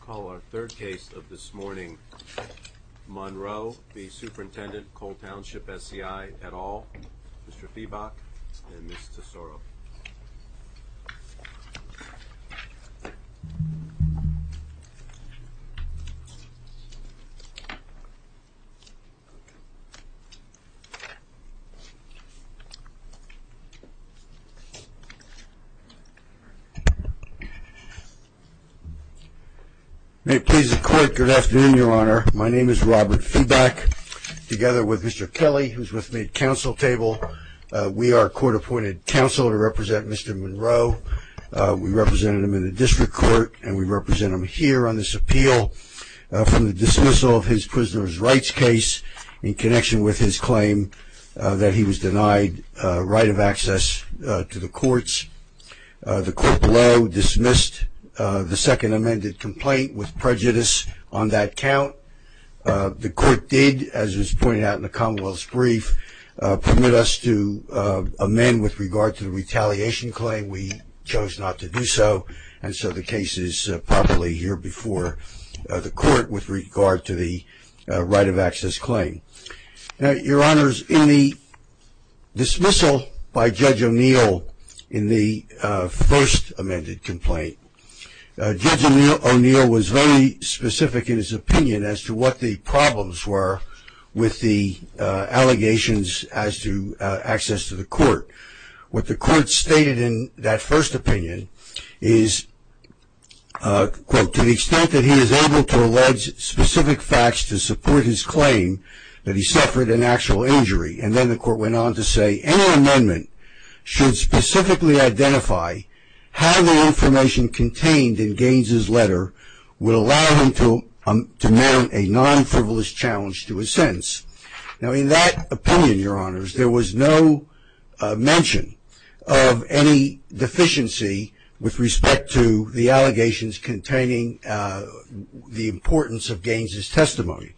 Call our third case of this morning, Monroe v. Superintendent Coal Township SCI, et al., Mr. Feebach and Ms. Tesoro. May it please the court, good afternoon, your honor. My name is Robert Feebach. Together with Mr. Kelly, who's with me at council table, we are a court-appointed council to represent Mr. Monroe. We represented him in the district court and we represent him here on this appeal from the dismissal of his prisoner's rights case in connection with his claim that he was denied right of access to the courts. The court below dismissed the second amended complaint with prejudice on that count. The court did, as was pointed out in the commonwealth's brief, permit us to amend with regard to the retaliation claim. We chose not to do so and so the case is properly here before the court with regard to the right of access claim. Now, your honors, in the dismissal by Judge O'Neill in the first amended complaint, Judge O'Neill was very specific in his opinion as to what the problems were with the allegations as to access to the court. What the court stated in that first opinion is, quote, to the extent that he is able to allege specific facts to support his claim that he suffered an actual injury. And then the court went on to say any amendment should specifically identify how the information contained in Gaines' letter would allow him to mount a non-frivolous challenge to his sentence. Now, in that opinion, your honors, there was no mention of any deficiency with respect to the allegations containing the importance of Gaines' testimony.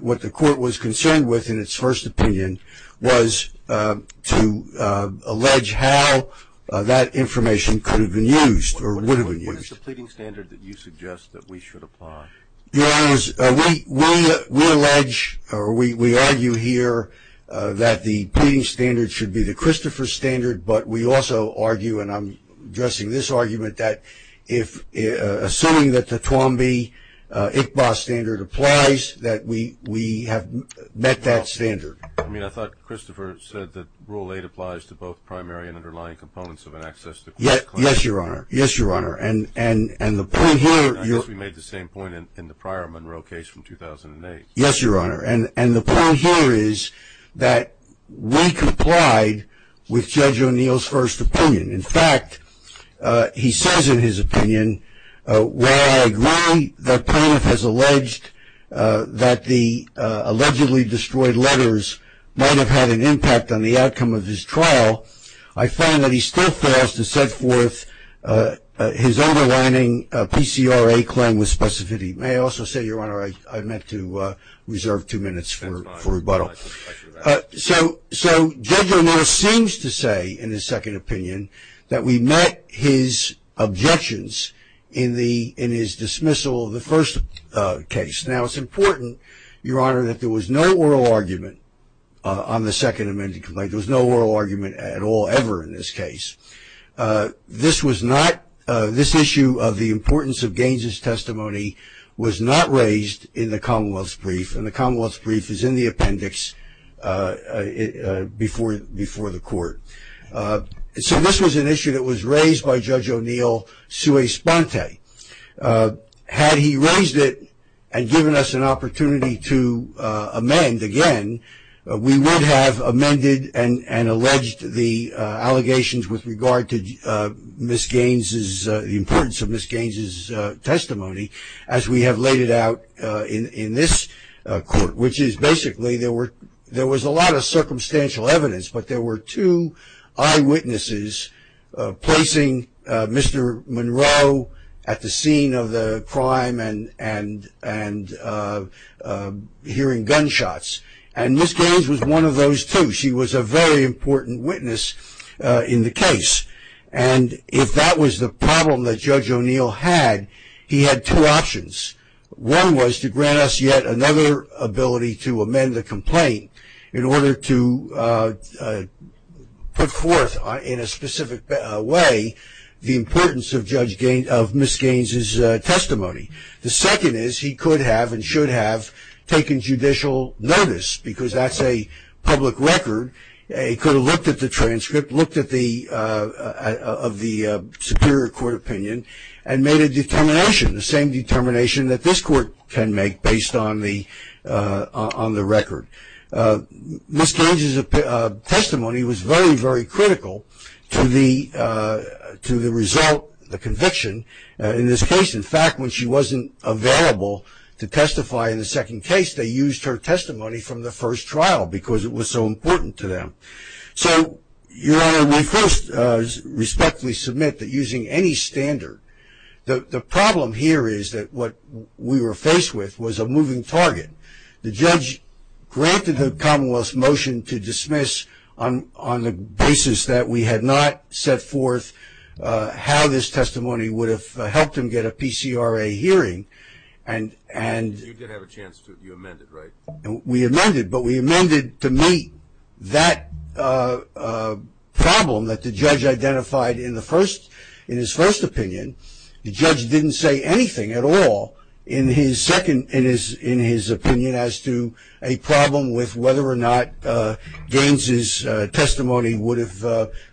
What the court was concerned with in its first opinion was to allege how that information could have been used or would have been used. What is the pleading standard that you suggest that we should apply? Your honors, we allege or we argue here that the pleading standard should be the Christopher standard, but we also argue, and I'm addressing this argument, that assuming that the Twomby-Iqbal standard applies, that we have met that standard. I mean, I thought Christopher said that Rule 8 applies to both primary and underlying components of an access to court claim. Yes, your honor. I guess we made the same point in the prior Monroe case from 2008. Yes, your honor. And the point here is that we complied with Judge O'Neill's first opinion. In fact, he says in his opinion, while I agree that Planoff has alleged that the allegedly destroyed letters might have had an impact on the outcome of his trial, I find that he still fails to set forth his underlining PCRA claim with specificity. May I also say, your honor, I meant to reserve two minutes for rebuttal. So Judge O'Neill seems to say in his second opinion that we met his objections in his dismissal of the first case. Now, it's important, your honor, that there was no oral argument on the Second Amendment complaint. There was no oral argument at all, ever in this case. This issue of the importance of Gaines's testimony was not raised in the Commonwealth's brief, and the Commonwealth's brief is in the appendix before the court. So this was an issue that was raised by Judge O'Neill sui sponte. Had he raised it and given us an opportunity to amend again, we would have amended and alleged the allegations with regard to Miss Gaines's, the importance of Miss Gaines's testimony as we have laid it out in this court, which is basically there was a lot of circumstantial evidence, but there were two eyewitnesses placing Mr. Monroe at the scene of the crime and hearing gunshots. And Miss Gaines was one of those two. She was a very important witness in the case. And if that was the problem that Judge O'Neill had, he had two options. One was to grant us yet another ability to amend the complaint in order to put forth, in a specific way, the importance of Miss Gaines's testimony. The second is he could have and should have taken judicial notice because that's a public record. He could have looked at the transcript, looked at the superior court opinion, and made a determination, the same determination that this court can make based on the record. Miss Gaines's testimony was very, very critical to the result, the conviction in this case. In fact, when she wasn't available to testify in the second case, they used her testimony from the first trial because it was so important to them. So, Your Honor, we first respectfully submit that using any standard, the problem here is that what we were faced with was a moving target. The judge granted the Commonwealth's motion to dismiss on the basis that we had not set forth how this testimony would have helped him get a PCRA hearing. You did have a chance to, you amended, right? We amended, but we amended to meet that problem that the judge identified in his first opinion. The judge didn't say anything at all in his second, in his opinion, as to a problem with whether or not Gaines's testimony would have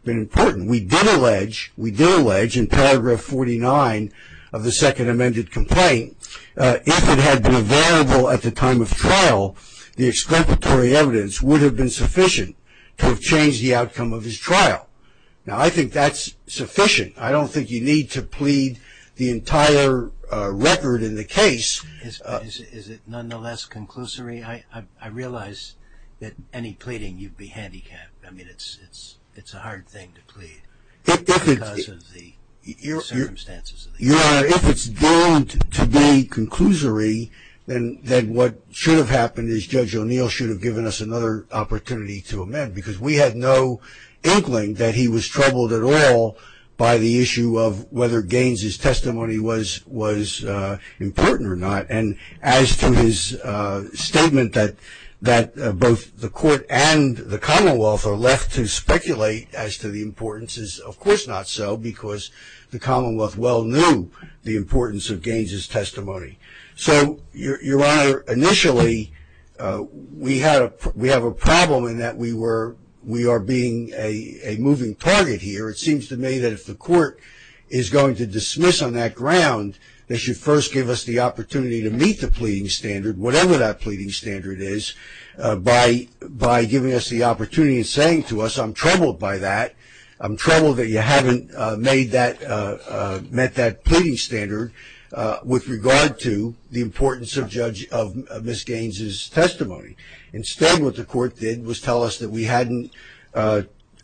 been important. We did allege, we did allege in paragraph 49 of the second amended complaint, if it had been available at the time of trial, the explanatory evidence would have been sufficient to have changed the outcome of his trial. Now, I think that's sufficient. I don't think you need to plead the entire record in the case. Is it nonetheless conclusory? I realize that any pleading, you'd be handicapped. I mean, it's a hard thing to plead because of the circumstances. Your Honor, if it's deemed to be conclusory, then what should have happened is Judge O'Neill should have given us another opportunity to amend because we had no inkling that he was troubled at all by the issue of whether Gaines's testimony was important or not. And as to his statement that both the court and the Commonwealth are left to speculate as to the importance, is of course not so because the Commonwealth well knew the importance of Gaines's testimony. So, Your Honor, initially, we have a problem in that we are being a moving target here. It seems to me that if the court is going to dismiss on that ground, they should first give us the opportunity to meet the pleading standard, whatever that pleading standard is, by giving us the opportunity and saying to us, I'm troubled by that. I'm troubled that you haven't met that pleading standard with regard to the importance of Ms. Gaines's testimony. Instead, what the court did was tell us that we hadn't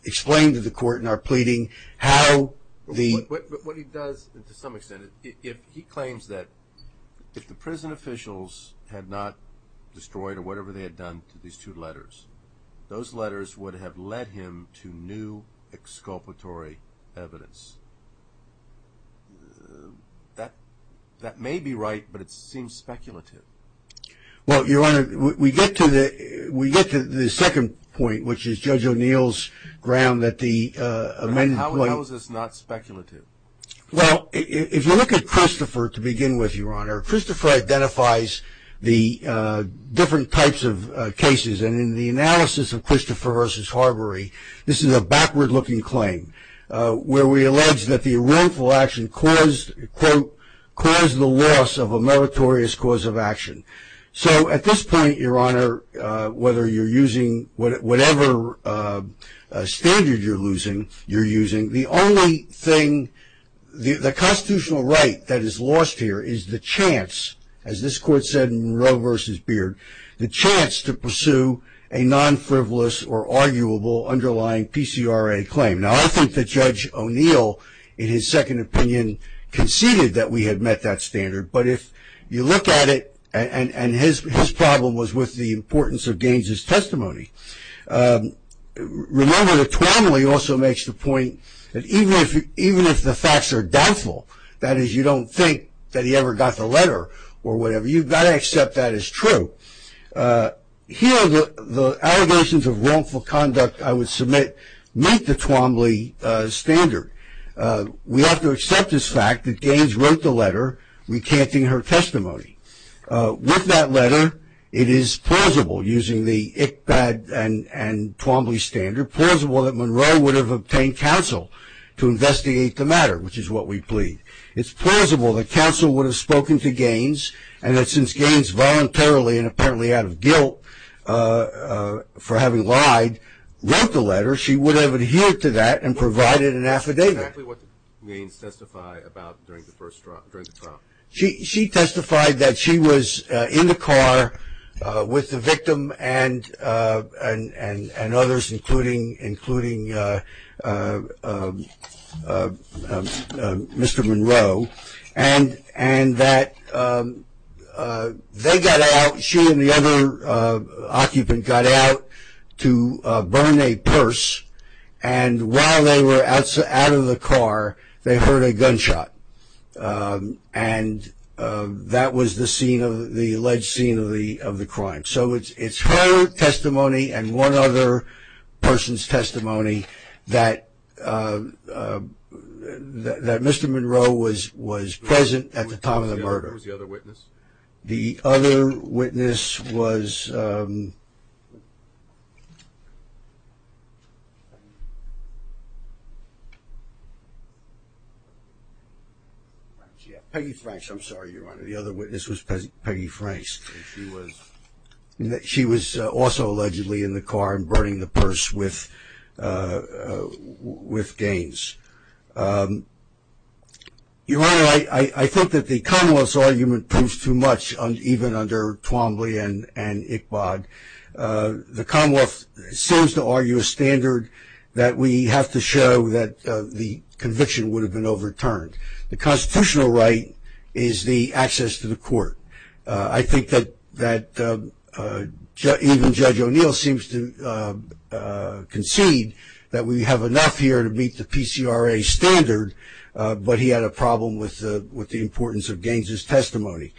explained to the court in our pleading how the- But what he does, to some extent, he claims that if the prison officials had not destroyed or whatever they had done to these two letters, those letters would have led him to new exculpatory evidence. That may be right, but it seems speculative. Well, Your Honor, we get to the second point, which is Judge O'Neill's ground that the amended point- Well, if you look at Christopher to begin with, Your Honor, Christopher identifies the different types of cases, and in the analysis of Christopher v. Harbury, this is a backward-looking claim, where we allege that the wrongful action caused, quote, caused the loss of a meritorious cause of action. So, at this point, Your Honor, whether you're using whatever standard you're using, the only thing, the constitutional right that is lost here is the chance, as this court said in Monroe v. Beard, the chance to pursue a non-frivolous or arguable underlying PCRA claim. Now, I think that Judge O'Neill, in his second opinion, conceded that we had met that standard, but if you look at it, and his problem was with the importance of Gaines's testimony. Remember that Twombly also makes the point that even if the facts are doubtful, that is, you don't think that he ever got the letter or whatever, you've got to accept that as true. Here, the allegations of wrongful conduct, I would submit, meet the Twombly standard. We have to accept this fact that Gaines wrote the letter recanting her testimony. With that letter, it is plausible, using the ICBD and Twombly standard, plausible that Monroe would have obtained counsel to investigate the matter, which is what we plead. It's plausible that counsel would have spoken to Gaines, and that since Gaines voluntarily, and apparently out of guilt for having lied, wrote the letter, she would have adhered to that and provided an affidavit. Exactly what did Gaines testify about during the trial? She testified that she was in the car with the victim and others, including Mr. Monroe, and that they got out, she and the other occupant got out to burn a purse, and while they were out of the car, they heard a gunshot, and that was the alleged scene of the crime. So it's her testimony and one other person's testimony that Mr. Monroe was present at the time of the murder. Who was the other witness? The other witness was Peggy Franks. I'm sorry, Your Honor. The other witness was Peggy Franks. She was also allegedly in the car and burning the purse with Gaines. Your Honor, I think that the Commonwealth's argument proves too much, even under Twombly and Iqbad. The Commonwealth seems to argue a standard that we have to show that the conviction would have been overturned. The constitutional right is the access to the court. I think that even Judge O'Neill seems to concede that we have enough here to meet the PCRA standard, but he had a problem with the importance of Gaines's testimony.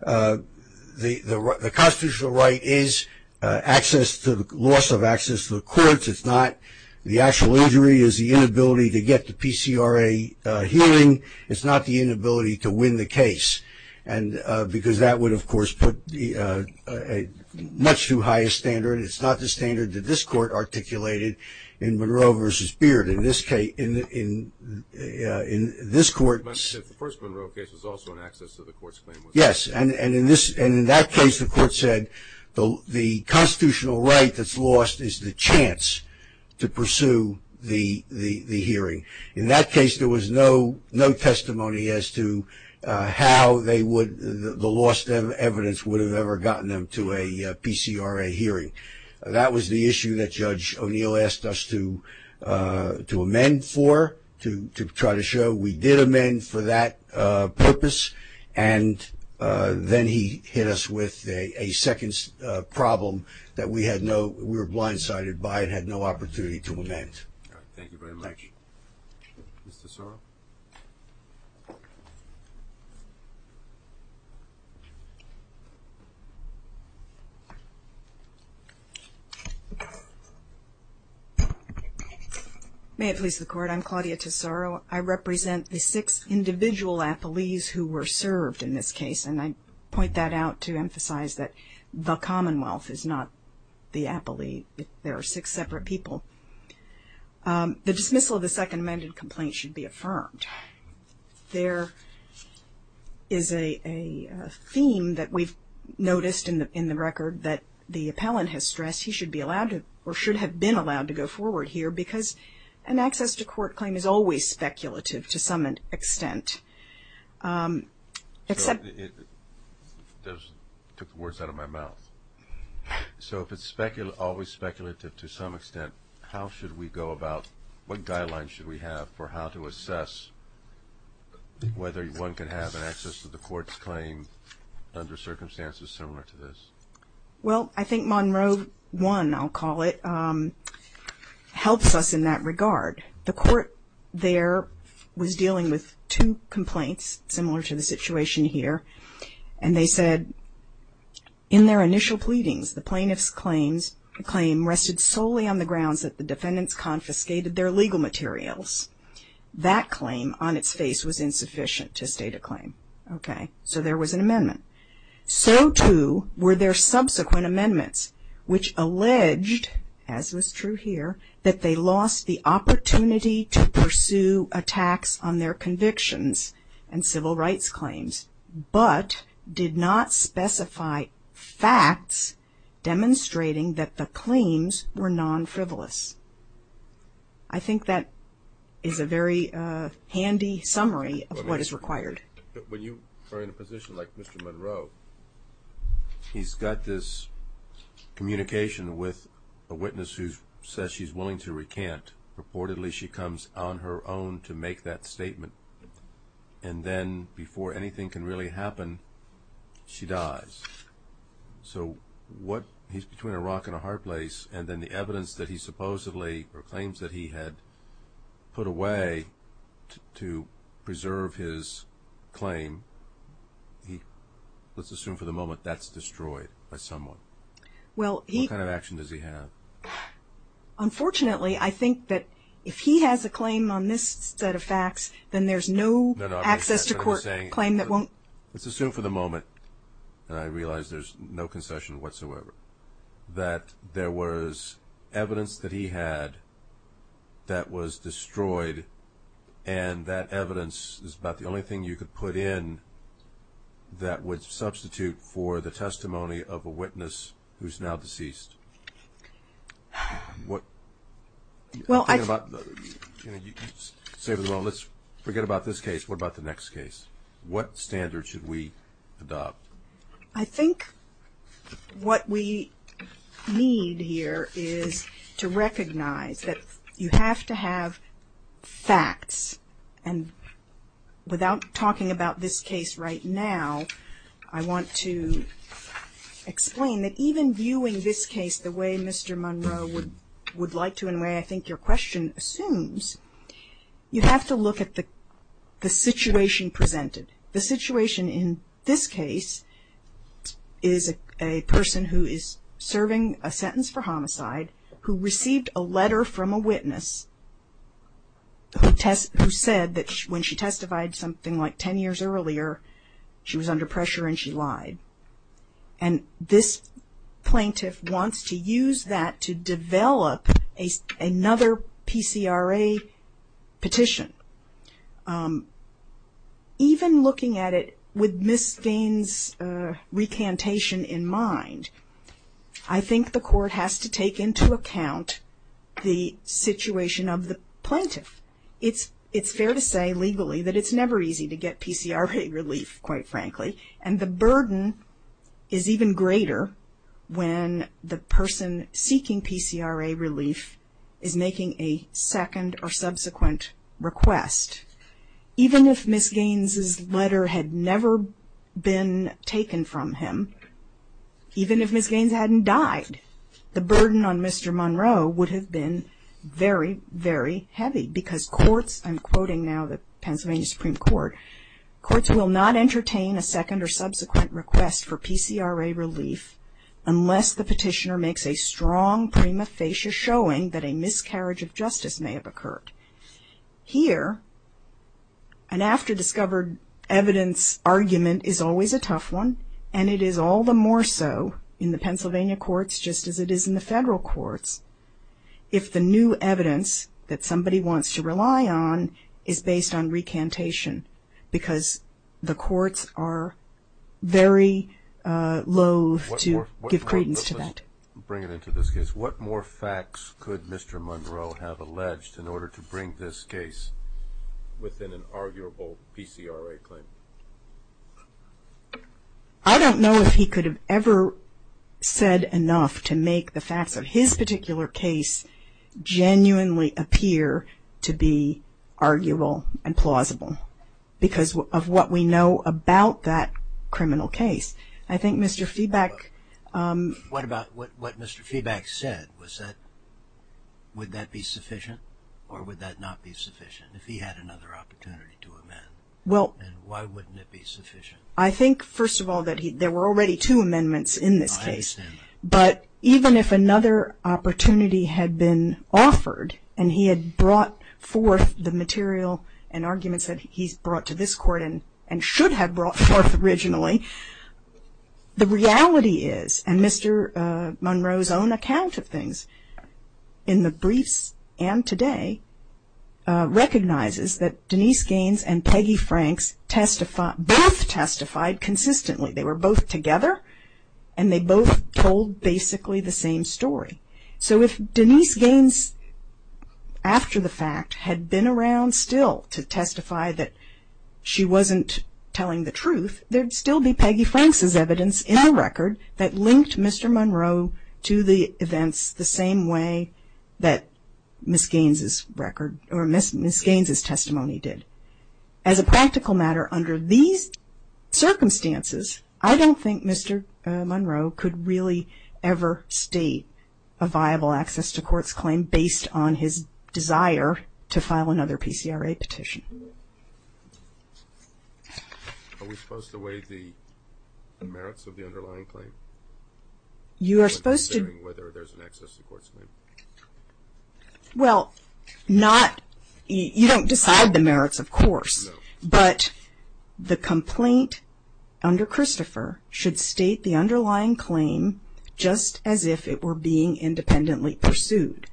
The constitutional right is the loss of access to the courts. It's not the actual injury. It's the inability to get the PCRA hearing. It's not the inability to win the case because that would, of course, put a much too high a standard. It's not the standard that this court articulated in Monroe v. Beard. In this case, in this court. The first Monroe case was also an access to the court's claim. Yes, and in that case the court said the constitutional right that's lost is the chance to pursue the hearing. In that case, there was no testimony as to how the lost evidence would have ever gotten them to a PCRA hearing. That was the issue that Judge O'Neill asked us to amend for, to try to show we did amend for that purpose, and then he hit us with a second problem that we were blindsided by and had no opportunity to amend. All right. Thank you very much. Ms. Tesoro. May it please the Court. I'm Claudia Tesoro. I represent the six individual appellees who were served in this case, and I point that out to emphasize that the Commonwealth is not the appellee. There are six separate people. The dismissal of the second amended complaint should be affirmed. There is a theme that we've noticed in the record that the appellant has stressed he should be allowed to, or should have been allowed to go forward here because an access to court claim is always speculative to some extent. It took the words out of my mouth. So if it's always speculative to some extent, how should we go about, what guidelines should we have for how to assess whether one can have an access to the court's claim under circumstances similar to this? Well, I think Monroe 1, I'll call it, helps us in that regard. The court there was dealing with two complaints similar to the situation here, and they said in their initial pleadings, the plaintiff's claim rested solely on the grounds that the defendants confiscated their legal materials. That claim on its face was insufficient to state a claim. Okay. So there was an amendment. So, too, were their subsequent amendments, which alleged, as was true here, that they lost the opportunity to pursue attacks on their convictions and civil rights claims, but did not specify facts demonstrating that the claims were non-frivolous. I think that is a very handy summary of what is required. When you are in a position like Mr. Monroe, he's got this communication with a witness who says she's willing to recant. Reportedly, she comes on her own to make that statement, and then before anything can really happen, she dies. So he's between a rock and a hard place, and then the evidence that he supposedly or claims that he had put away to preserve his claim, let's assume for the moment that's destroyed by someone. What kind of action does he have? Unfortunately, I think that if he has a claim on this set of facts, then there's no access to court claim that won't. Let's assume for the moment, and I realize there's no concession whatsoever, that there was evidence that he had that was destroyed, and that evidence is about the only thing you could put in that would substitute for the testimony of a witness who's now deceased. Forget about this case. What about the next case? What standard should we adopt? I think what we need here is to recognize that you have to have facts, and without talking about this case right now, I want to explain that even viewing this case the way Mr. Monroe would like to and the way I think your question assumes, you have to look at the situation presented. The situation in this case is a person who is serving a sentence for homicide who received a letter from a witness who said that when she testified something like 10 years earlier, she was under pressure and she lied. And this plaintiff wants to use that to develop another PCRA petition. Even looking at it with Ms. Vane's recantation in mind, I think the court has to take into account the situation of the plaintiff. It's fair to say legally that it's never easy to get PCRA relief, quite frankly, and the burden is even greater when the person seeking PCRA relief is making a second or subsequent request. Even if Ms. Gaines's letter had never been taken from him, even if Ms. Gaines hadn't died, the burden on Mr. Monroe would have been very, very heavy because courts, I'm quoting now the Pennsylvania Supreme Court, courts will not entertain a second or subsequent request for PCRA relief unless the petitioner makes a strong prima facie showing that a miscarriage of justice may have occurred. Here, an after-discovered evidence argument is always a tough one, and it is all the more so in the Pennsylvania courts just as it is in the federal courts if the new evidence that somebody wants to rely on is based on recantation because the courts are very loathe to give credence to that. What more facts could Mr. Monroe have alleged in order to bring this case within an arguable PCRA claim? I don't know if he could have ever said enough to make the facts of his particular case genuinely appear to be arguable and plausible because of what we know about that criminal case. I think Mr. Feeback What about what Mr. Feeback said? Was that, would that be sufficient or would that not be sufficient if he had another opportunity to amend? Well And why wouldn't it be sufficient? I think, first of all, that there were already two amendments in this case. I understand that. But even if another opportunity had been offered and he had brought forth the material and arguments that he's brought to this court and should have brought forth originally, the reality is, and Mr. Monroe's own account of things in the briefs and today, recognizes that Denise Gaines and Peggy Franks testified, both testified consistently. They were both together and they both told basically the same story. So if Denise Gaines, after the fact, had been around still to testify that she wasn't telling the truth, there'd still be Peggy Franks' evidence in the record that linked Mr. Monroe to the events the same way that Ms. Gaines' record or Ms. Gaines' testimony did. As a practical matter, under these circumstances, I don't think Mr. Monroe could really ever state a viable access to courts claim based on his desire to file another PCRA petition. Are we supposed to weigh the merits of the underlying claim? You are supposed to Considering whether there's an access to courts claim. Well, not, you don't decide the merits, of course, but the complaint under Christopher should state the underlying claim just as if it were being independently pursued.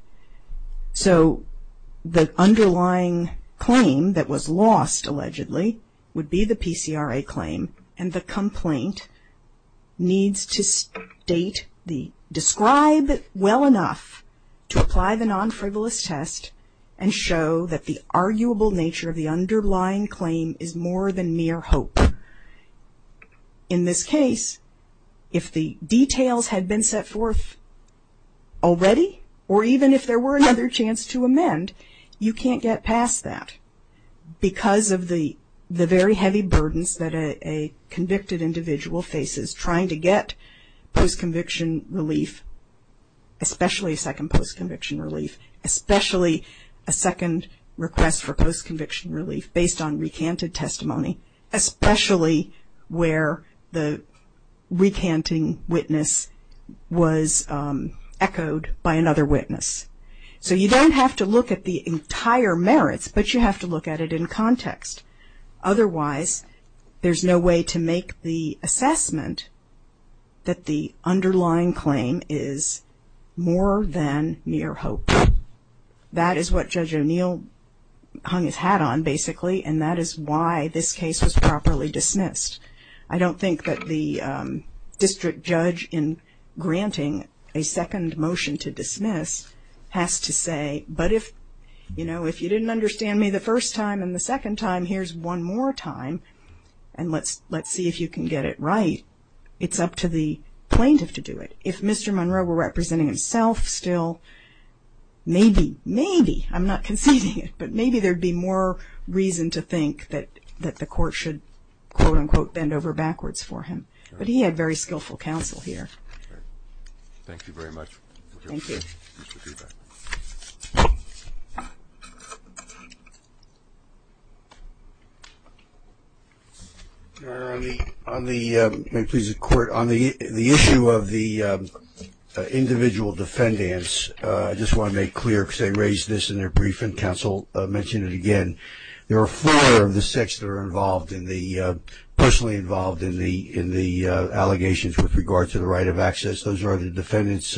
So the underlying claim that was lost allegedly would be the PCRA claim and the complaint needs to state, describe well enough to apply the non-frivolous test and show that the arguable nature of the underlying claim is more than mere hope. In this case, if the details had been set forth already, or even if there were another chance to amend, you can't get past that because of the very heavy burdens that a convicted individual faces trying to get post-conviction relief, especially a second post-conviction relief, especially a second request for post-conviction relief based on recanted testimony, especially where the recanting witness was echoed by another witness. So you don't have to look at the entire merits, but you have to look at it in context. Otherwise, there's no way to make the assessment that the underlying claim is more than mere hope. That is what Judge O'Neill hung his hat on, basically, and that is why this case was properly dismissed. I don't think that the district judge in granting a second motion to dismiss has to say, but if you didn't understand me the first time and the second time, here's one more time, and let's see if you can get it right. It's up to the plaintiff to do it. If Mr. Monroe were representing himself still, maybe, maybe, I'm not conceding it, but maybe there would be more reason to think that the court should, quote, unquote, bend over backwards for him. But he had very skillful counsel here. Thank you very much. Thank you. On the issue of the individual defendants, I just want to make clear because they raised this in their briefing. Counsel mentioned it again. There are four of the six that are involved in the, personally involved in the allegations with regard to the right of access. Those are the defendants,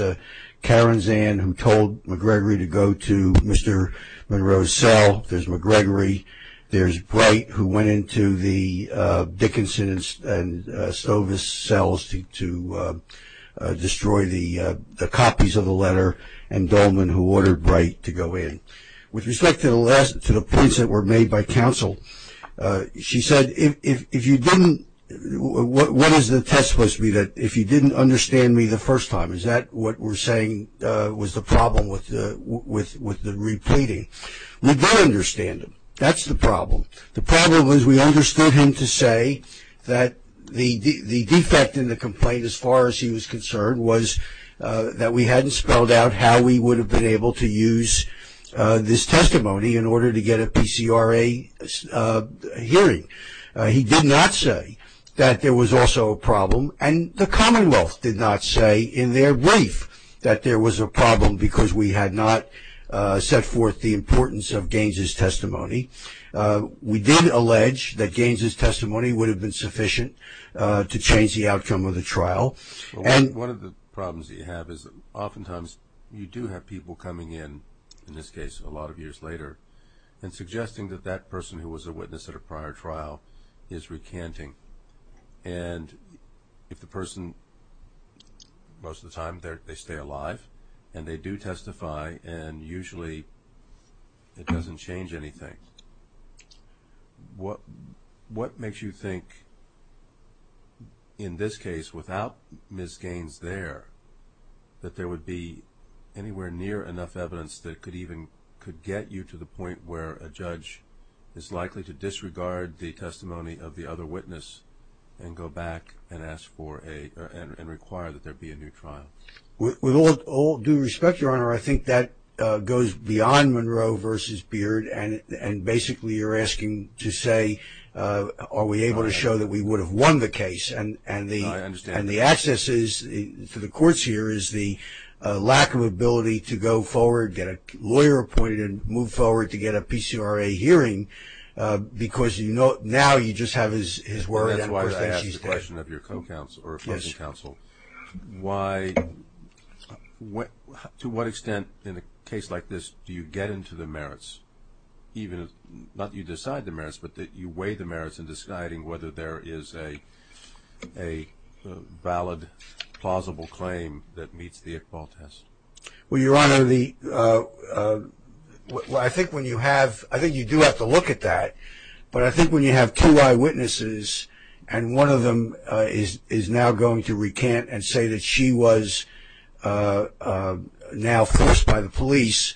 Karen Zahn, who told McGregory to go to Mr. Monroe's cell. There's McGregory. There's Bright, who went into the Dickinson and Stovis cells to destroy the copies of the letter, and Dolman, who ordered Bright to go in. With respect to the points that were made by counsel, she said, if you didn't, what is the test supposed to be, that if you didn't understand me the first time? Is that what we're saying was the problem with the repleting? We did understand him. That's the problem. The problem was we understood him to say that the defect in the complaint, as far as he was concerned, was that we hadn't spelled out how we would have been able to use this testimony in order to get a PCRA hearing. He did not say that there was also a problem, and the Commonwealth did not say in their brief that there was a problem because we had not set forth the importance of Gaines's testimony. We did allege that Gaines's testimony would have been sufficient to change the outcome of the trial. One of the problems that you have is that oftentimes you do have people coming in, in this case a lot of years later, and suggesting that that person who was a witness at a prior trial is recanting, and if the person, most of the time they stay alive, and they do testify, and usually it doesn't change anything. What makes you think, in this case, without Ms. Gaines there, that there would be anywhere near enough evidence that could even get you to the point where a judge is likely to disregard the testimony of the other witness and go back and require that there be a new trial? With all due respect, Your Honor, I think that goes beyond Monroe v. Beard, and basically you're asking to say are we able to show that we would have won the case, and the access to the courts here is the lack of ability to go forward, get a lawyer appointed, move forward to get a PCRA hearing, because now you just have his word. That's why I asked the question of your co-counsel or opposing counsel. To what extent in a case like this do you get into the merits, not that you decide the merits, but that you weigh the merits in deciding whether there is a valid, plausible claim that meets the Iqbal test? Well, Your Honor, I think you do have to look at that, but I think when you have two eyewitnesses and one of them is now going to recant and say that she was now forced by the police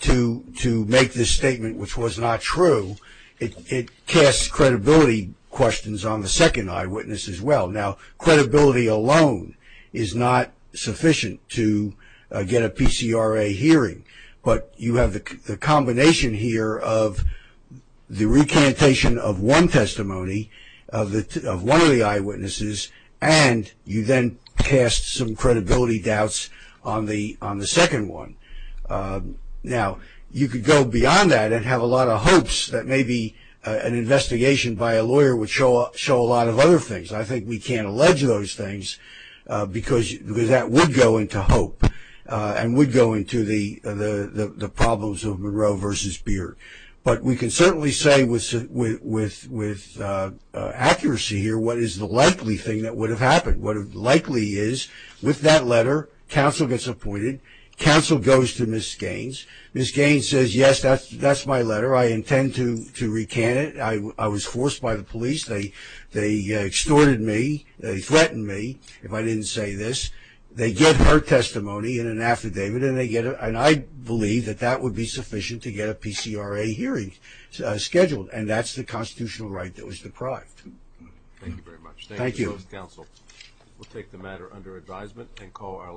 to make this statement which was not true, it casts credibility questions on the second eyewitness as well. Now, credibility alone is not sufficient to get a PCRA hearing, but you have the combination here of the recantation of one testimony of one of the eyewitnesses and you then cast some credibility doubts on the second one. Now, you could go beyond that and have a lot of hopes that maybe an investigation by a lawyer would show a lot of other things. I think we can't allege those things because that would go into hope and would go into the problems of Monroe v. Beard. But we can certainly say with accuracy here what is the likely thing that would have happened. What likely is with that letter, counsel gets appointed. Counsel goes to Ms. Gaines. Ms. Gaines says, yes, that's my letter. I intend to recant it. I was forced by the police. They extorted me. They threatened me if I didn't say this. They get her testimony in an affidavit, and I believe that that would be sufficient to get a PCRA hearing scheduled, and that's the constitutional right that was deprived. Thank you very much. Thank you. Thank you, Mr. Counsel. We'll take the matter under advisement and call our last witness.